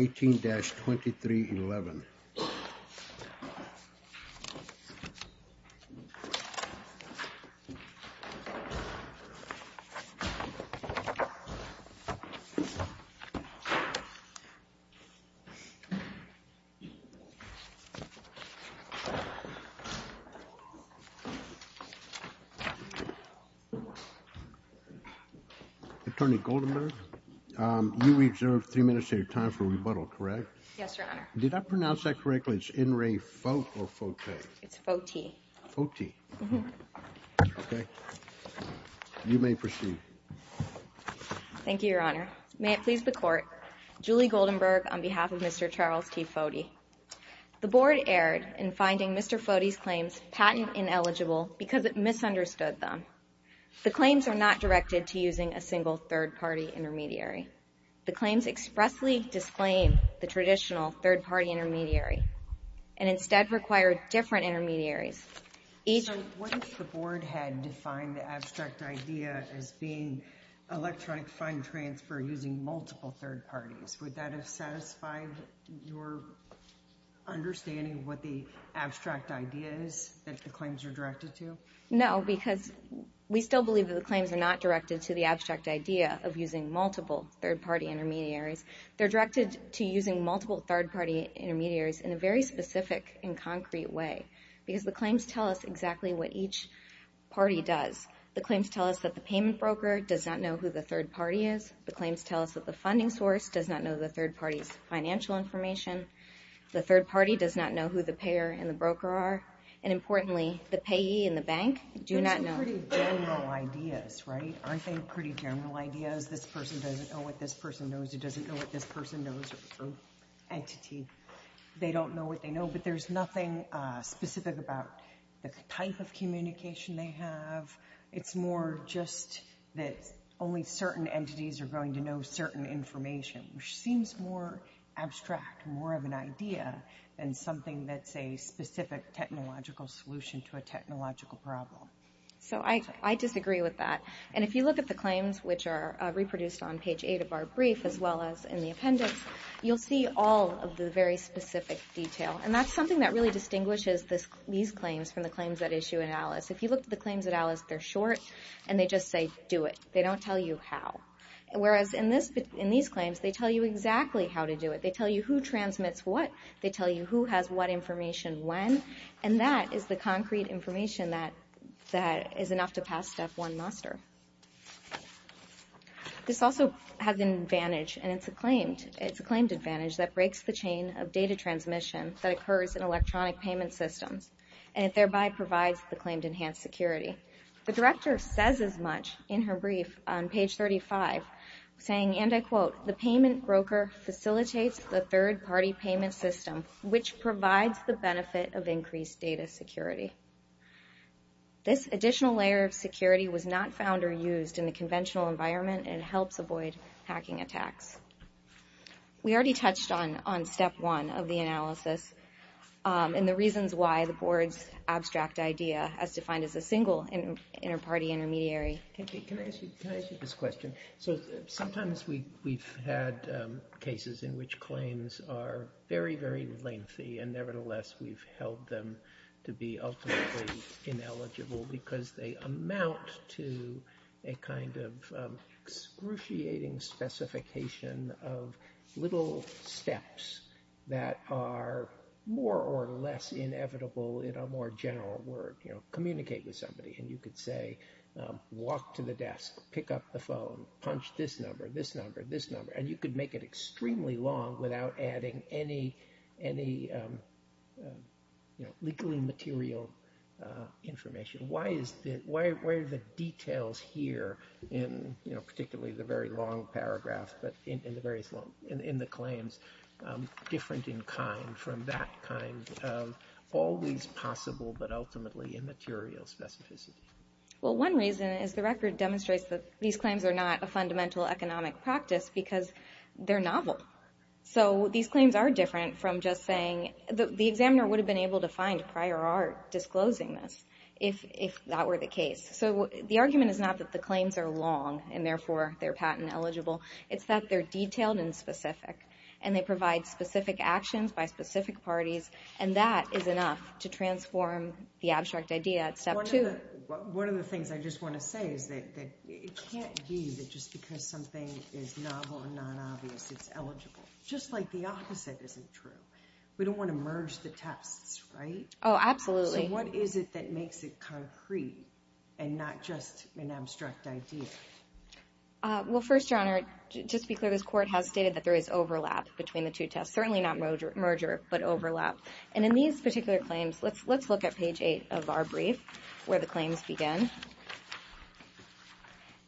18-2311. Attorney Goldenberg, you reserved three minutes of your time for rebuttal, correct? Yes, Your Honor. Did I pronounce that correctly? It's In Re Fote or Fote? It's Fote. Fote. Okay. You may proceed. Thank you, Your Honor. May it please the Court, Julie Goldenberg on behalf of Mr. Charles T. Fote. The Board erred in finding Mr. Fote's claims patent ineligible because it misunderstood them. The claims are not directed to using a single third-party intermediary. The claims expressly disclaim the traditional third-party intermediary and instead require different intermediaries. So what if the Board had defined the abstract idea as being electronic fund transfer using multiple third-parties? Would that have satisfied your understanding of what the abstract idea is that the claims are directed to? No, because we still believe that the claims are not directed to the abstract idea of using multiple third-party intermediaries. They're directed to using multiple third-party intermediaries in a very specific and concrete way, because the claims tell us exactly what each party does. The claims tell us that the payment broker does not know who the third party is. The claims tell us that the funding source does not know the third party's financial information. The third party does not know who the payer and the broker are. And importantly, the payee and the bank do not know. Those are pretty general ideas, right? Aren't they pretty general ideas? This person doesn't know what this person knows, who doesn't know what this person knows, or entity. They don't know what they know, but there's nothing specific about the type of communication they have. It's more just that only certain entities are going to know certain information, which seems more abstract, more of an idea, than something that's a specific technological solution to a technological problem. So I disagree with that. And if you look at the claims, which are reproduced on page 8 of our brief, as well as in the appendix, you'll see all of the very specific detail. And that's something that really distinguishes these claims from the claims at issue in ALIS. If you look at the claims at ALIS, they're short, and they just say, do it. They don't tell you how. Whereas in these claims, they tell you exactly how to do it. They tell you who transmits what. They tell you who has what information when. And that is the concrete information that is enough to pass Step 1 muster. This also has an advantage, and it's a claimed advantage, that breaks the chain of data transmission that occurs in electronic payment systems, and it thereby provides the claimed enhanced security. The director says as much in her brief on page 35, saying, and I quote, the payment broker facilitates the third-party payment system, which provides the benefit of increased data security. This additional layer of security was not found or used in the conventional environment and helps avoid hacking attacks. We already touched on Step 1 of the analysis and the reasons why the board's abstract idea as defined as a single inter-party intermediary. Can I ask you this question? So sometimes we've had cases in which claims are very, very lengthy, and nevertheless, we've held them to be ultimately ineligible because they amount to a kind of excruciating specification of little steps that are more or less inevitable in a more general word. You know, communicate with somebody, and you could say, walk to the desk, pick up the phone, punch this number, this number, this number, and you could make it extremely long without adding any, you know, legally material information. Why is the, where are the details here in, you know, particularly the very long paragraph, but in the various long, in the claims, different in kind from that kind of always possible but ultimately immaterial specificity? Well one reason is the record demonstrates that these claims are not a fundamental economic practice because they're novel. So these claims are different from just saying, the examiner would have been able to find prior art disclosing this if that were the case. So the argument is not that the claims are long and therefore they're patent eligible. It's that they're detailed and specific, and they provide specific actions by specific parties, and that is enough to transform the abstract idea at step two. One of the things I just want to say is that it can't be that just because something is novel and non-obvious, it's eligible. Just like the opposite isn't true. We don't want to merge the tests, right? Oh, absolutely. So what is it that makes it concrete and not just an abstract idea? Well first, Your Honor, just to be clear, this court has stated that there is overlap between the two tests. Certainly not merger, but overlap. And in these particular claims, let's look at page eight of our brief where the claims begin.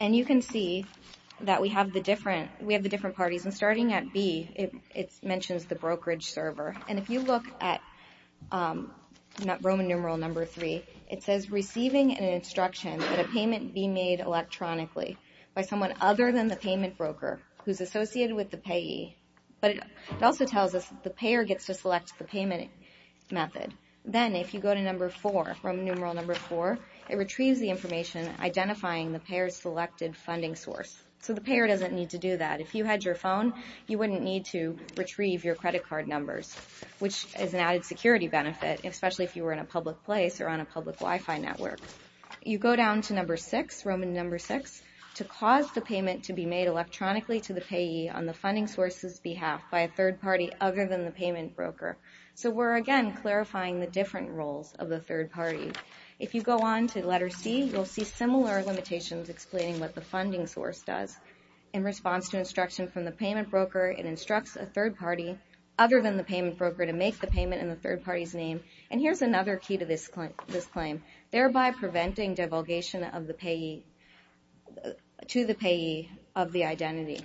And you can see that we have the different parties, and starting at B, it mentions the brokerage server. And if you look at Roman numeral number three, it says receiving an instruction that a payment be made electronically by someone other than the payment broker who's associated with the payee. But it also tells us that the payer gets to select the payment method. Then if you go to number four, Roman numeral number four, it retrieves the information identifying the payer's selected funding source. So the payer doesn't need to do that. If you had your phone, you wouldn't need to retrieve your credit card numbers, which is an added security benefit, especially if you were in a public place or on a public Wi-Fi network. You go down to number six, Roman number six, to cause the payment to be made electronically to the payee on the funding source's behalf by a third party other than the payment broker. So we're, again, clarifying the different roles of the third party. If you go on to letter C, you'll see similar limitations explaining what the funding source does in response to instruction from the payment broker, it instructs a third party other than the payment broker to make the payment in the third party's name. And here's another key to this claim, thereby preventing divulgation of the payee to the identity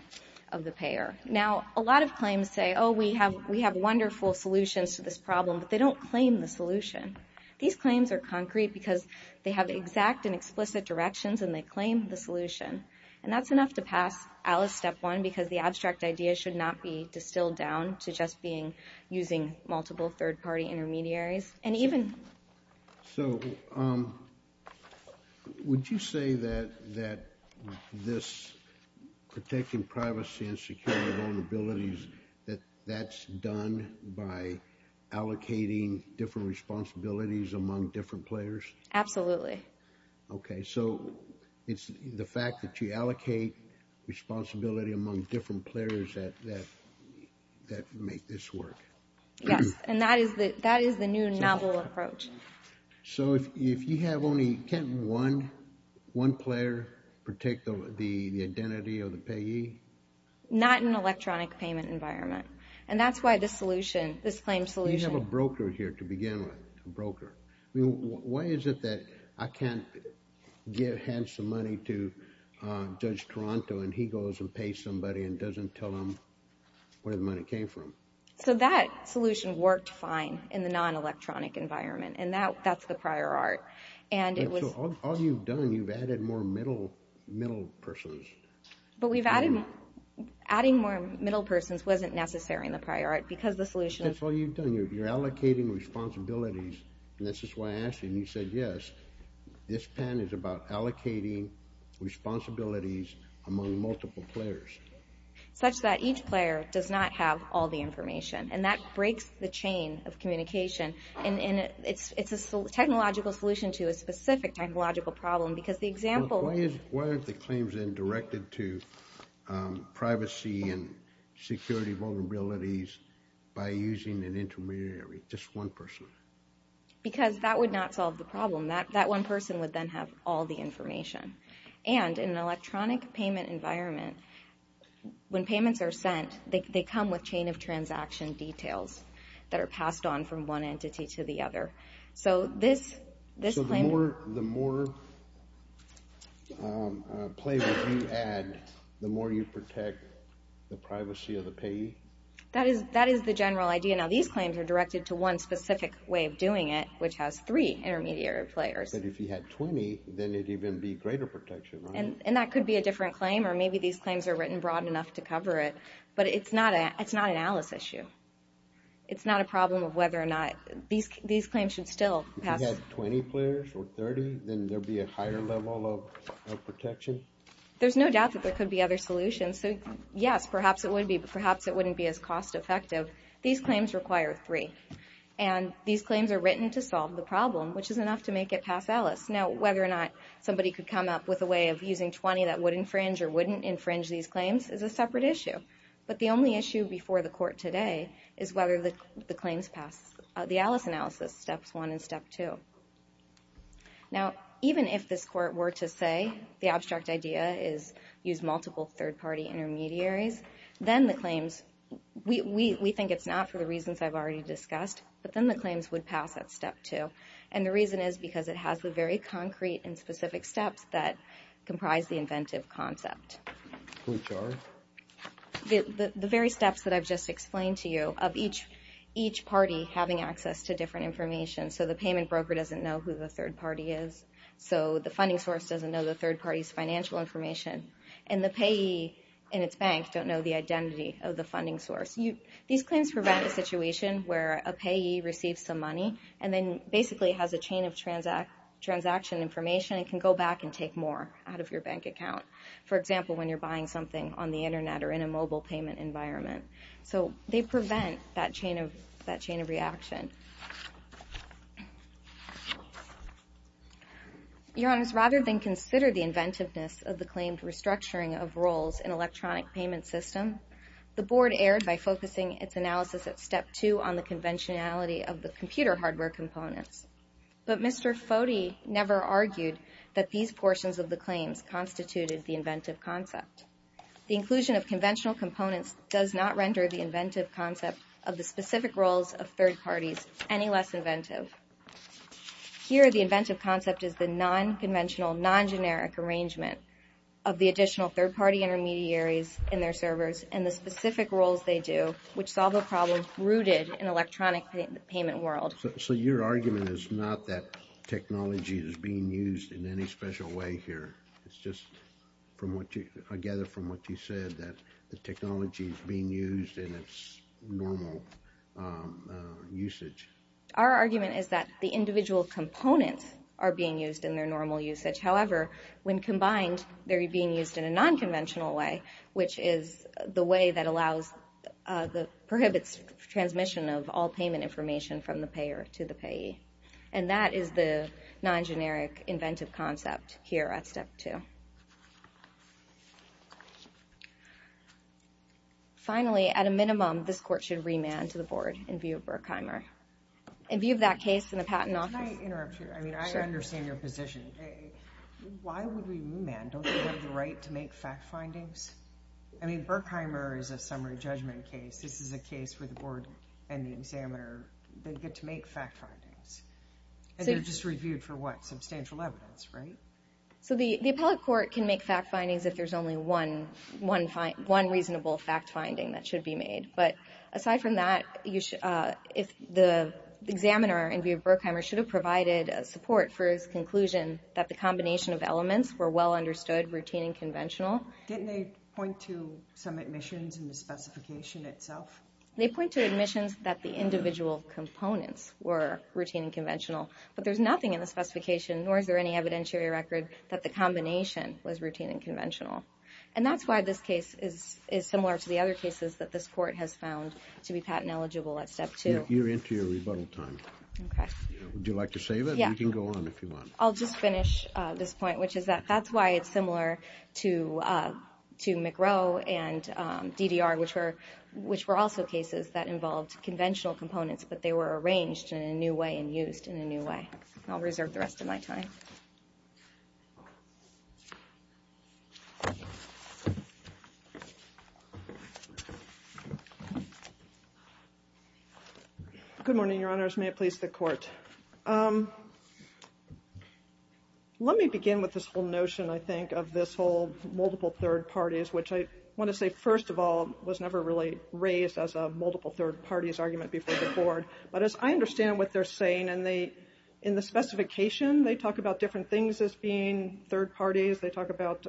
of the payer. Now, a lot of claims say, oh, we have wonderful solutions to this problem, but they don't claim the solution. These claims are concrete because they have exact and explicit directions and they claim the solution. And that's enough to pass Alice step one, because the abstract idea should not be distilled down to just being using multiple third party intermediaries. So, would you say that this protecting privacy and security vulnerabilities, that that's done by allocating different responsibilities among different players? Absolutely. Okay. So it's the fact that you allocate responsibility among different players that make this work. Yes. And that is the new novel approach. So if you have only one player protect the identity of the payee? Not in an electronic payment environment. And that's why this solution, this claim solution. You have a broker here to begin with, a broker. Why is it that I can't hand some money to Judge Toronto and he goes and pays somebody and doesn't tell them where the money came from? So that solution worked fine in the non-electronic environment and that's the prior art. And it was... So all you've done, you've added more middle persons. But we've added, adding more middle persons wasn't necessary in the prior art because the solution... That's all you've done. You're allocating responsibilities and this is why I asked you and you said yes. This pen is about allocating responsibilities among multiple players. Such that each player does not have all the information. And that breaks the chain of communication and it's a technological solution to a specific technological problem because the example... Why aren't the claims then directed to privacy and security vulnerabilities by using an intermediary, just one person? Because that would not solve the problem. That one person would then have all the information. And in an electronic payment environment, when payments are sent, they come with chain of transaction details that are passed on from one entity to the other. So this... So the more players you add, the more you protect the privacy of the payee? That is the general idea. Now these claims are directed to one specific way of doing it, which has three intermediary players. But if you had 20, then it'd even be greater protection, right? And that could be a different claim or maybe these claims are written broad enough to cover it. But it's not an ALICE issue. It's not a problem of whether or not... These claims should still pass... If you had 20 players or 30, then there'd be a higher level of protection? There's no doubt that there could be other solutions. So yes, perhaps it would be, but perhaps it wouldn't be as cost effective. These claims require three and these claims are written to solve the problem, which is ALICE. Now, whether or not somebody could come up with a way of using 20 that would infringe or wouldn't infringe these claims is a separate issue. But the only issue before the court today is whether the claims pass the ALICE analysis, steps one and step two. Now even if this court were to say the abstract idea is use multiple third-party intermediaries, then the claims... We think it's not for the reasons I've already discussed, but then the claims would pass at step two. And the reason is because it has the very concrete and specific steps that comprise the inventive concept. The very steps that I've just explained to you of each party having access to different information. So the payment broker doesn't know who the third party is. So the funding source doesn't know the third party's financial information. And the payee and its bank don't know the identity of the funding source. These claims prevent a situation where a payee receives some money and then basically has a chain of transaction information and can go back and take more out of your bank account. For example, when you're buying something on the internet or in a mobile payment environment. So they prevent that chain of reaction. Your Honors, rather than consider the inventiveness of the claimed restructuring of roles in electronic payment system, the Board erred by focusing its analysis at step two on the conventionality of the computer hardware components. But Mr. Foti never argued that these portions of the claims constituted the inventive concept. The inclusion of conventional components does not render the inventive concept of the specific roles of third parties any less inventive. Here the inventive concept is the non-conventional, non-generic arrangement of the additional third party intermediaries in their servers and the specific roles they do, which solve the problem rooted in electronic payment world. So your argument is not that technology is being used in any special way here. It's just from what you, I gather from what you said that the technology is being used in its normal usage. Our argument is that the individual components are being used in their normal usage. However, when combined, they're being used in a non-conventional way, which is the way that allows the prohibits transmission of all payment information from the payer to the payee. And that is the non-generic inventive concept here at step two. Finally, at a minimum, this Court should remand to the Board in view of Burkheimer. In view of that case in the Patent Office. Can I interrupt you? Sure. I mean, I understand your position. Why would we remand? Don't we have the right to make fact findings? I mean, Burkheimer is a summary judgment case. This is a case where the Board and the examiner, they get to make fact findings. And they're just reviewed for what? Substantial evidence, right? So the Appellate Court can make fact findings if there's only one reasonable fact finding that should be made. But aside from that, the examiner, in view of Burkheimer, should have provided support for his conclusion that the combination of elements were well understood, routine and conventional. Didn't they point to some admissions in the specification itself? They point to admissions that the individual components were routine and conventional. But there's nothing in the specification, nor is there any evidentiary record, that the combination was routine and conventional. And that's why this case is similar to the other cases that this court has found to be patent eligible at step two. You're into your rebuttal time. Okay. Would you like to save it? Yeah. You can go on if you want. I'll just finish this point, which is that that's why it's similar to McRow and DDR, which were also cases that involved conventional components, but they were arranged in a new way and used in a new way. I'll reserve the rest of my time. Thank you. Good morning, Your Honors. May it please the Court. Let me begin with this whole notion, I think, of this whole multiple third parties, which I want to say, first of all, was never really raised as a multiple third parties argument before the Court. But as I understand what they're saying, and they, in the specification, they talk about different things as being third parties. They talk about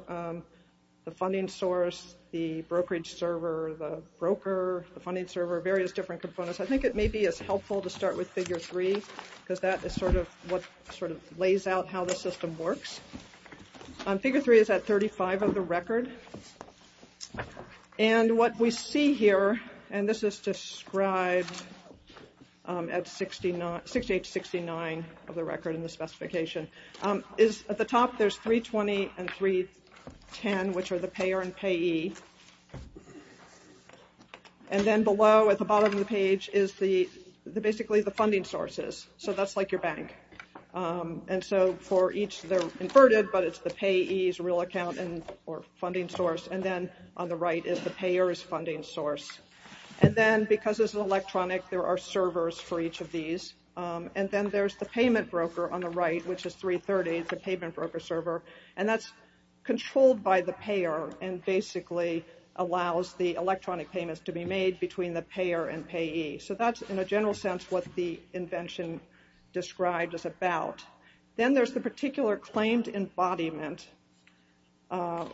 the funding source, the brokerage server, the broker, the funding server, various different components. I think it may be as helpful to start with figure three, because that is sort of what sort of lays out how the system works. Figure three is at 35 of the record. And what we see here, and this is described at 68 to 69 of the record in the specification, is at the top there's 320 and 310, which are the payer and payee. And then below, at the bottom of the page, is basically the funding sources. So that's like your bank. And so for each, they're inverted, but it's the payee's real account or funding source. And then on the right is the payer's funding source. And then, because this is electronic, there are servers for each of these. And then there's the payment broker on the right, which is 330. It's a payment broker server. And that's controlled by the payer and basically allows the electronic payments to be made between the payer and payee. So that's, in a general sense, what the invention described is about. Then there's the particular claimed embodiment,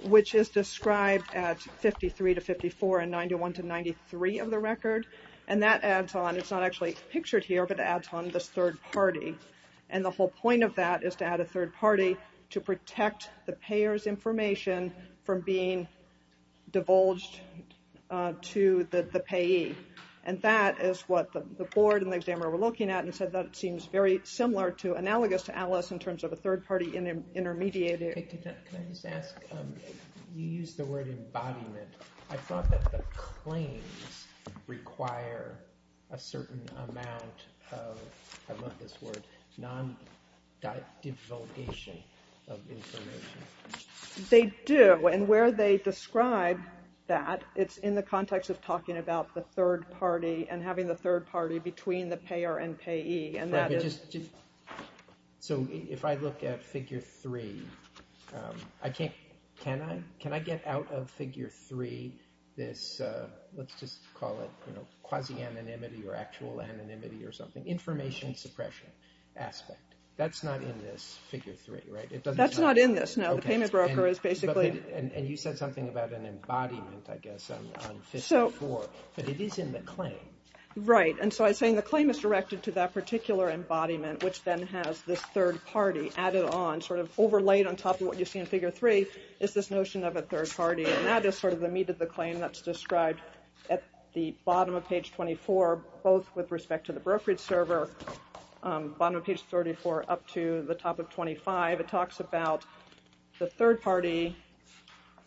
which is described at 53 to 54 and 91 to 93 of the record. And that adds on. It's not actually pictured here, but it adds on this third party. And the whole point of that is to add a third party to protect the payer's information from being divulged to the payee. And that is what the board and the examiner were looking at and said that it seems very similar to, analogous to Alice in terms of a third party intermediary. Can I just ask, you used the word embodiment. I thought that the claims require a certain amount of, I love this word, non-divulgation of information. They do. And where they describe that, it's in the context of talking about the third party and having the third party between the payer and payee. So if I look at Figure 3, can I get out of Figure 3 this, let's just call it quasi-anonymity or actual anonymity or something, information suppression aspect? That's not in this Figure 3, right? That's not in this, no. And you said something about an embodiment, I guess, on Figure 4, but it is in the claim. Right. And so I was saying the claim is directed to that particular embodiment, which then has this third party added on, sort of overlaid on top of what you see in Figure 3 is this notion of a third party. And that is sort of the meat of the claim that's described at the bottom of Page 24, both with respect to the brokerage server, bottom of Page 34 up to the top of 25. It talks about the third party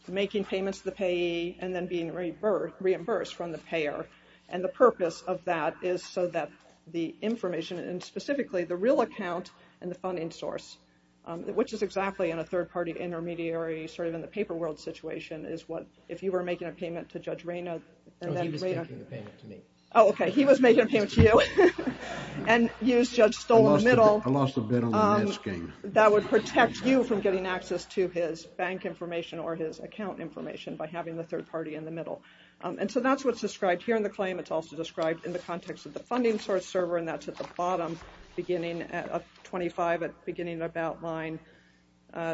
making payments to the payee and then being reimbursed from the payer. And the purpose of that is so that the information, and specifically the real account and the funding source, which is exactly in a third party intermediary sort of in the paper world situation, is what if you were making a payment to Judge Reyna. Oh, he was making a payment to me. Oh, okay. And you, Judge, stole in the middle. I lost a bit on the asking. That would protect you from getting access to his bank information or his account information by having the third party in the middle. And so that's what's described here in the claim. It's also described in the context of the funding source server, and that's at the bottom beginning at 25, beginning at about line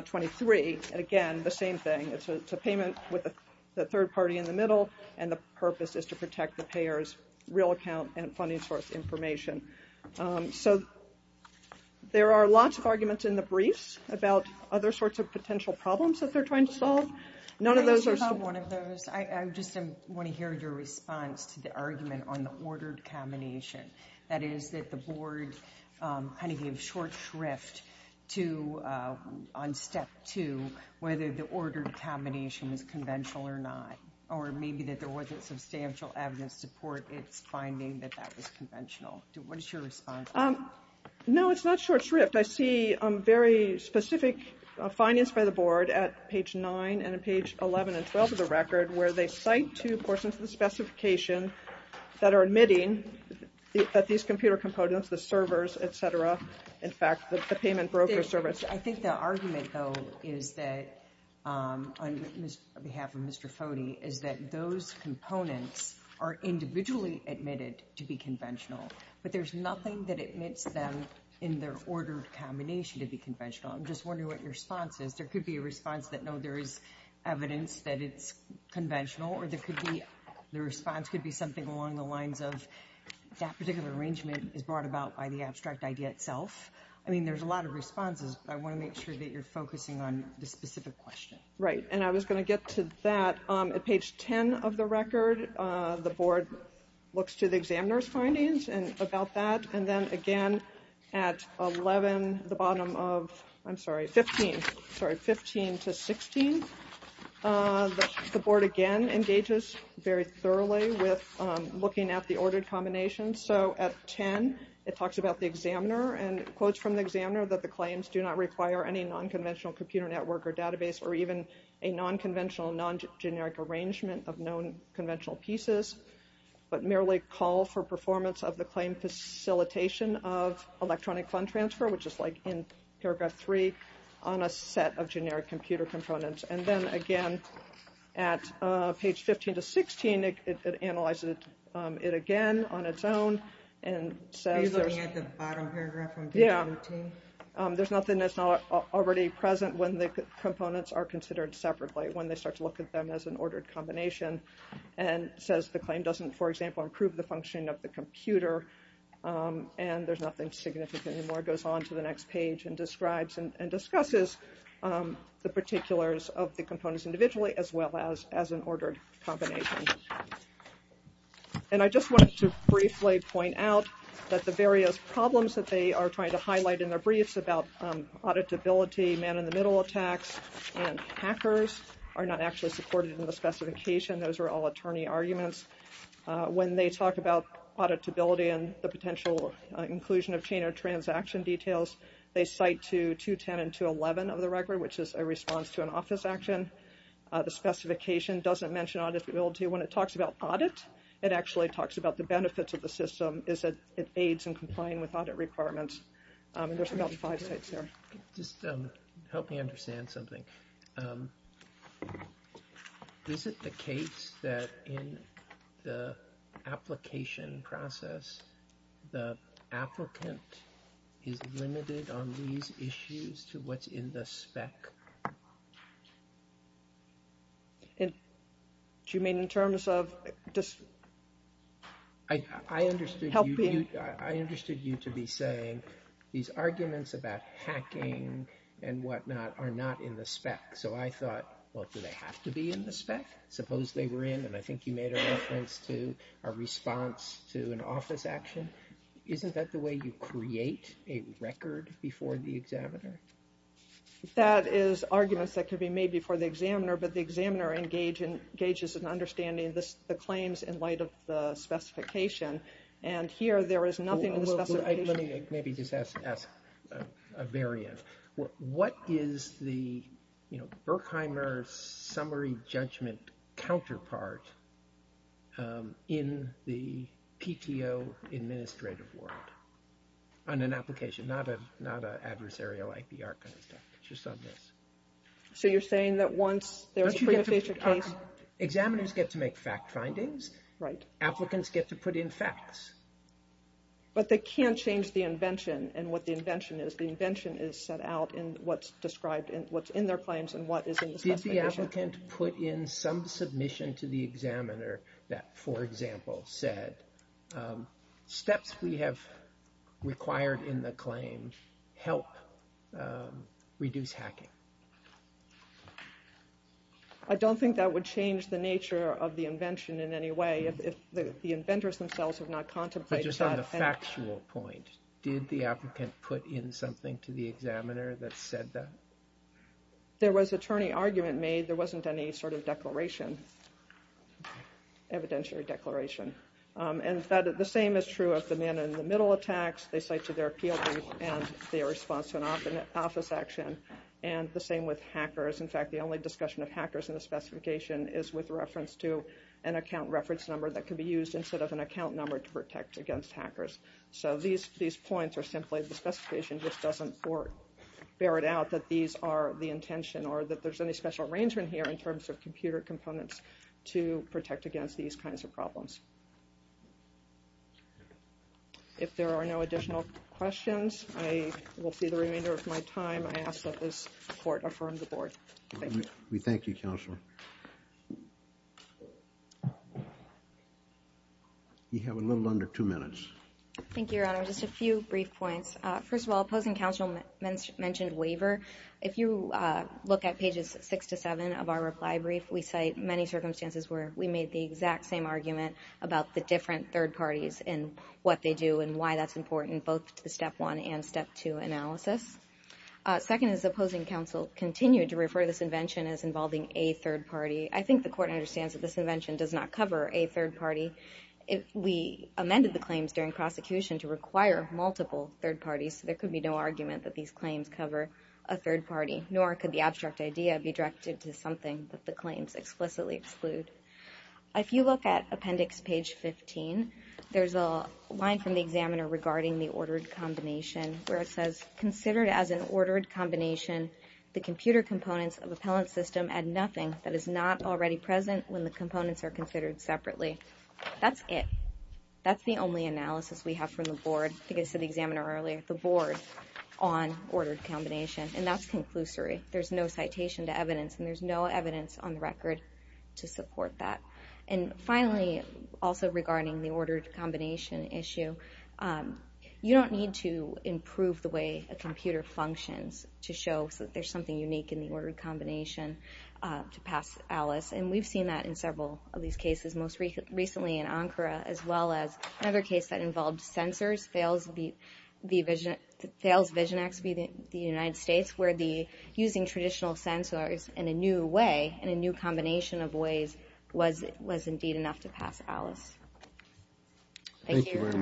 23. And, again, the same thing. It's a payment with the third party in the middle, and the purpose is to protect the payer's real account and funding source information. So there are lots of arguments in the briefs about other sorts of potential problems that they're trying to solve. None of those are... Can I ask about one of those? I just want to hear your response to the argument on the ordered combination. That is that the board kind of gave short shrift to, on step two, whether the ordered combination was conventional or not, or maybe that there wasn't substantial evidence to support its finding that that was conventional. What is your response? No, it's not short shrift. I see very specific findings by the board at page 9 and page 11 and 12 of the record where they cite two portions of the specification that are admitting that these computer components, the servers, et cetera, in fact, the payment broker service. I think the argument, though, is that, on behalf of Mr. Foti, is that those components are individually admitted to be conventional, but there's nothing that admits them in their ordered combination to be conventional. I'm just wondering what your response is. There could be a response that, no, there is evidence that it's conventional, or the response could be something along the lines of that particular arrangement is brought about by the abstract idea itself. I mean, there's a lot of responses, but I want to make sure that you're focusing on the specific question. Right, and I was going to get to that. At page 10 of the record, the board looks to the examiner's findings about that, and then again at 11, the bottom of, I'm sorry, 15, sorry, 15 to 16, the board again engages very thoroughly with looking at the ordered combination. So at 10, it talks about the examiner and quotes from the examiner that the claims do not require any nonconventional computer network or database or even a nonconventional non-generic arrangement of non-conventional pieces, but merely call for performance of the claim facilitation of electronic fund transfer, which is like in paragraph 3, on a set of generic computer components. And then again at page 15 to 16, it analyzes it again on its own and says there's... Are you looking at the bottom paragraph from page 17? There's nothing that's not already present when the components are considered separately, when they start to look at them as an ordered combination, and says the claim doesn't, for example, improve the functioning of the computer, and there's nothing significant anymore. It goes on to the next page and describes and discusses the particulars of the components individually as well as an ordered combination. And I just wanted to briefly point out that the various problems that they are trying to highlight in their briefs about auditability, man-in-the-middle attacks, and hackers are not actually supported in the specification. Those are all attorney arguments. When they talk about auditability and the potential inclusion of chain or transaction details, they cite to 210 and 211 of the record, which is a response to an office action. The specification doesn't mention auditability. When it talks about audit, it actually talks about the benefits of the system is that it aids in complying with audit requirements. There's about five sites there. Just help me understand something. Is it the case that in the application process, the applicant is limited on these issues to what's in the spec? Do you mean in terms of just helping? I understood you to be saying these arguments about hacking and whatnot are not in the spec. So I thought, well, do they have to be in the spec? Suppose they were in, and I think you made a reference to a response to an office action. Isn't that the way you create a record before the examiner? That is arguments that could be made before the examiner, but the examiner engages in understanding the claims in light of the specification, and here there is nothing in the specification. Let me maybe just ask a variant. What is the Berkheimer summary judgment counterpart in the PTO administrative world on an application? Not an adversarial IPR kind of stuff, just on this. So you're saying that once there's a preinterfacial case. Examiners get to make fact findings. Right. Applicants get to put in facts. But they can't change the invention and what the invention is. The invention is set out in what's described in what's in their claims and what is in the specification. Did the applicant put in some submission to the examiner that, for example, said steps we have required in the claim help reduce hacking? I don't think that would change the nature of the invention in any way. If the inventors themselves have not contemplated that. But just on the factual point, did the applicant put in something to the examiner that said that? There was attorney argument made. There wasn't any sort of declaration, evidentiary declaration. And the same is true of the man-in-the-middle attacks. They cite to their appeal brief and their response to an office action. And the same with hackers. In fact, the only discussion of hackers in the specification is with reference to an account reference number that could be used instead of an account number to protect against hackers. So these points are simply the specification just doesn't bear it out that these are the intention or that there's any special arrangement here in terms of computer components to protect against these kinds of problems. If there are no additional questions, I will see the remainder of my time. I ask that this court affirm the board. Thank you. We thank you, Counselor. You have a little under two minutes. Thank you, Your Honor. Just a few brief points. First of all, opposing counsel mentioned waiver. If you look at pages six to seven of our reply brief, we cite many circumstances where we made the exact same argument about the different third parties and what they do and why that's important both to step one and step two analysis. Second is opposing counsel continued to refer to this invention as involving a third party. I think the court understands that this invention does not cover a third party. We amended the claims during prosecution to require multiple third parties, so there could be no argument that these claims cover a third party, nor could the abstract idea be directed to something that the claims explicitly exclude. If you look at appendix page 15, there's a line from the examiner regarding the ordered combination where it says, considered as an ordered combination, the computer components of appellant system add nothing that is not already present when the components are considered separately. That's it. That's the only analysis we have from the board. I think I said the examiner earlier, the board on ordered combination, and that's conclusory. There's no citation to evidence, and there's no evidence on the record to support that. And finally, also regarding the ordered combination issue, you don't need to improve the way a computer functions to show that there's something unique in the ordered combination to pass Alice, and we've seen that in several of these cases, most recently in Ankara, as well as another case that involved sensors, FAILS Vision X v. the United States, where using traditional sensors in a new way, in a new combination of ways, was indeed enough to pass Alice. Thank you very much.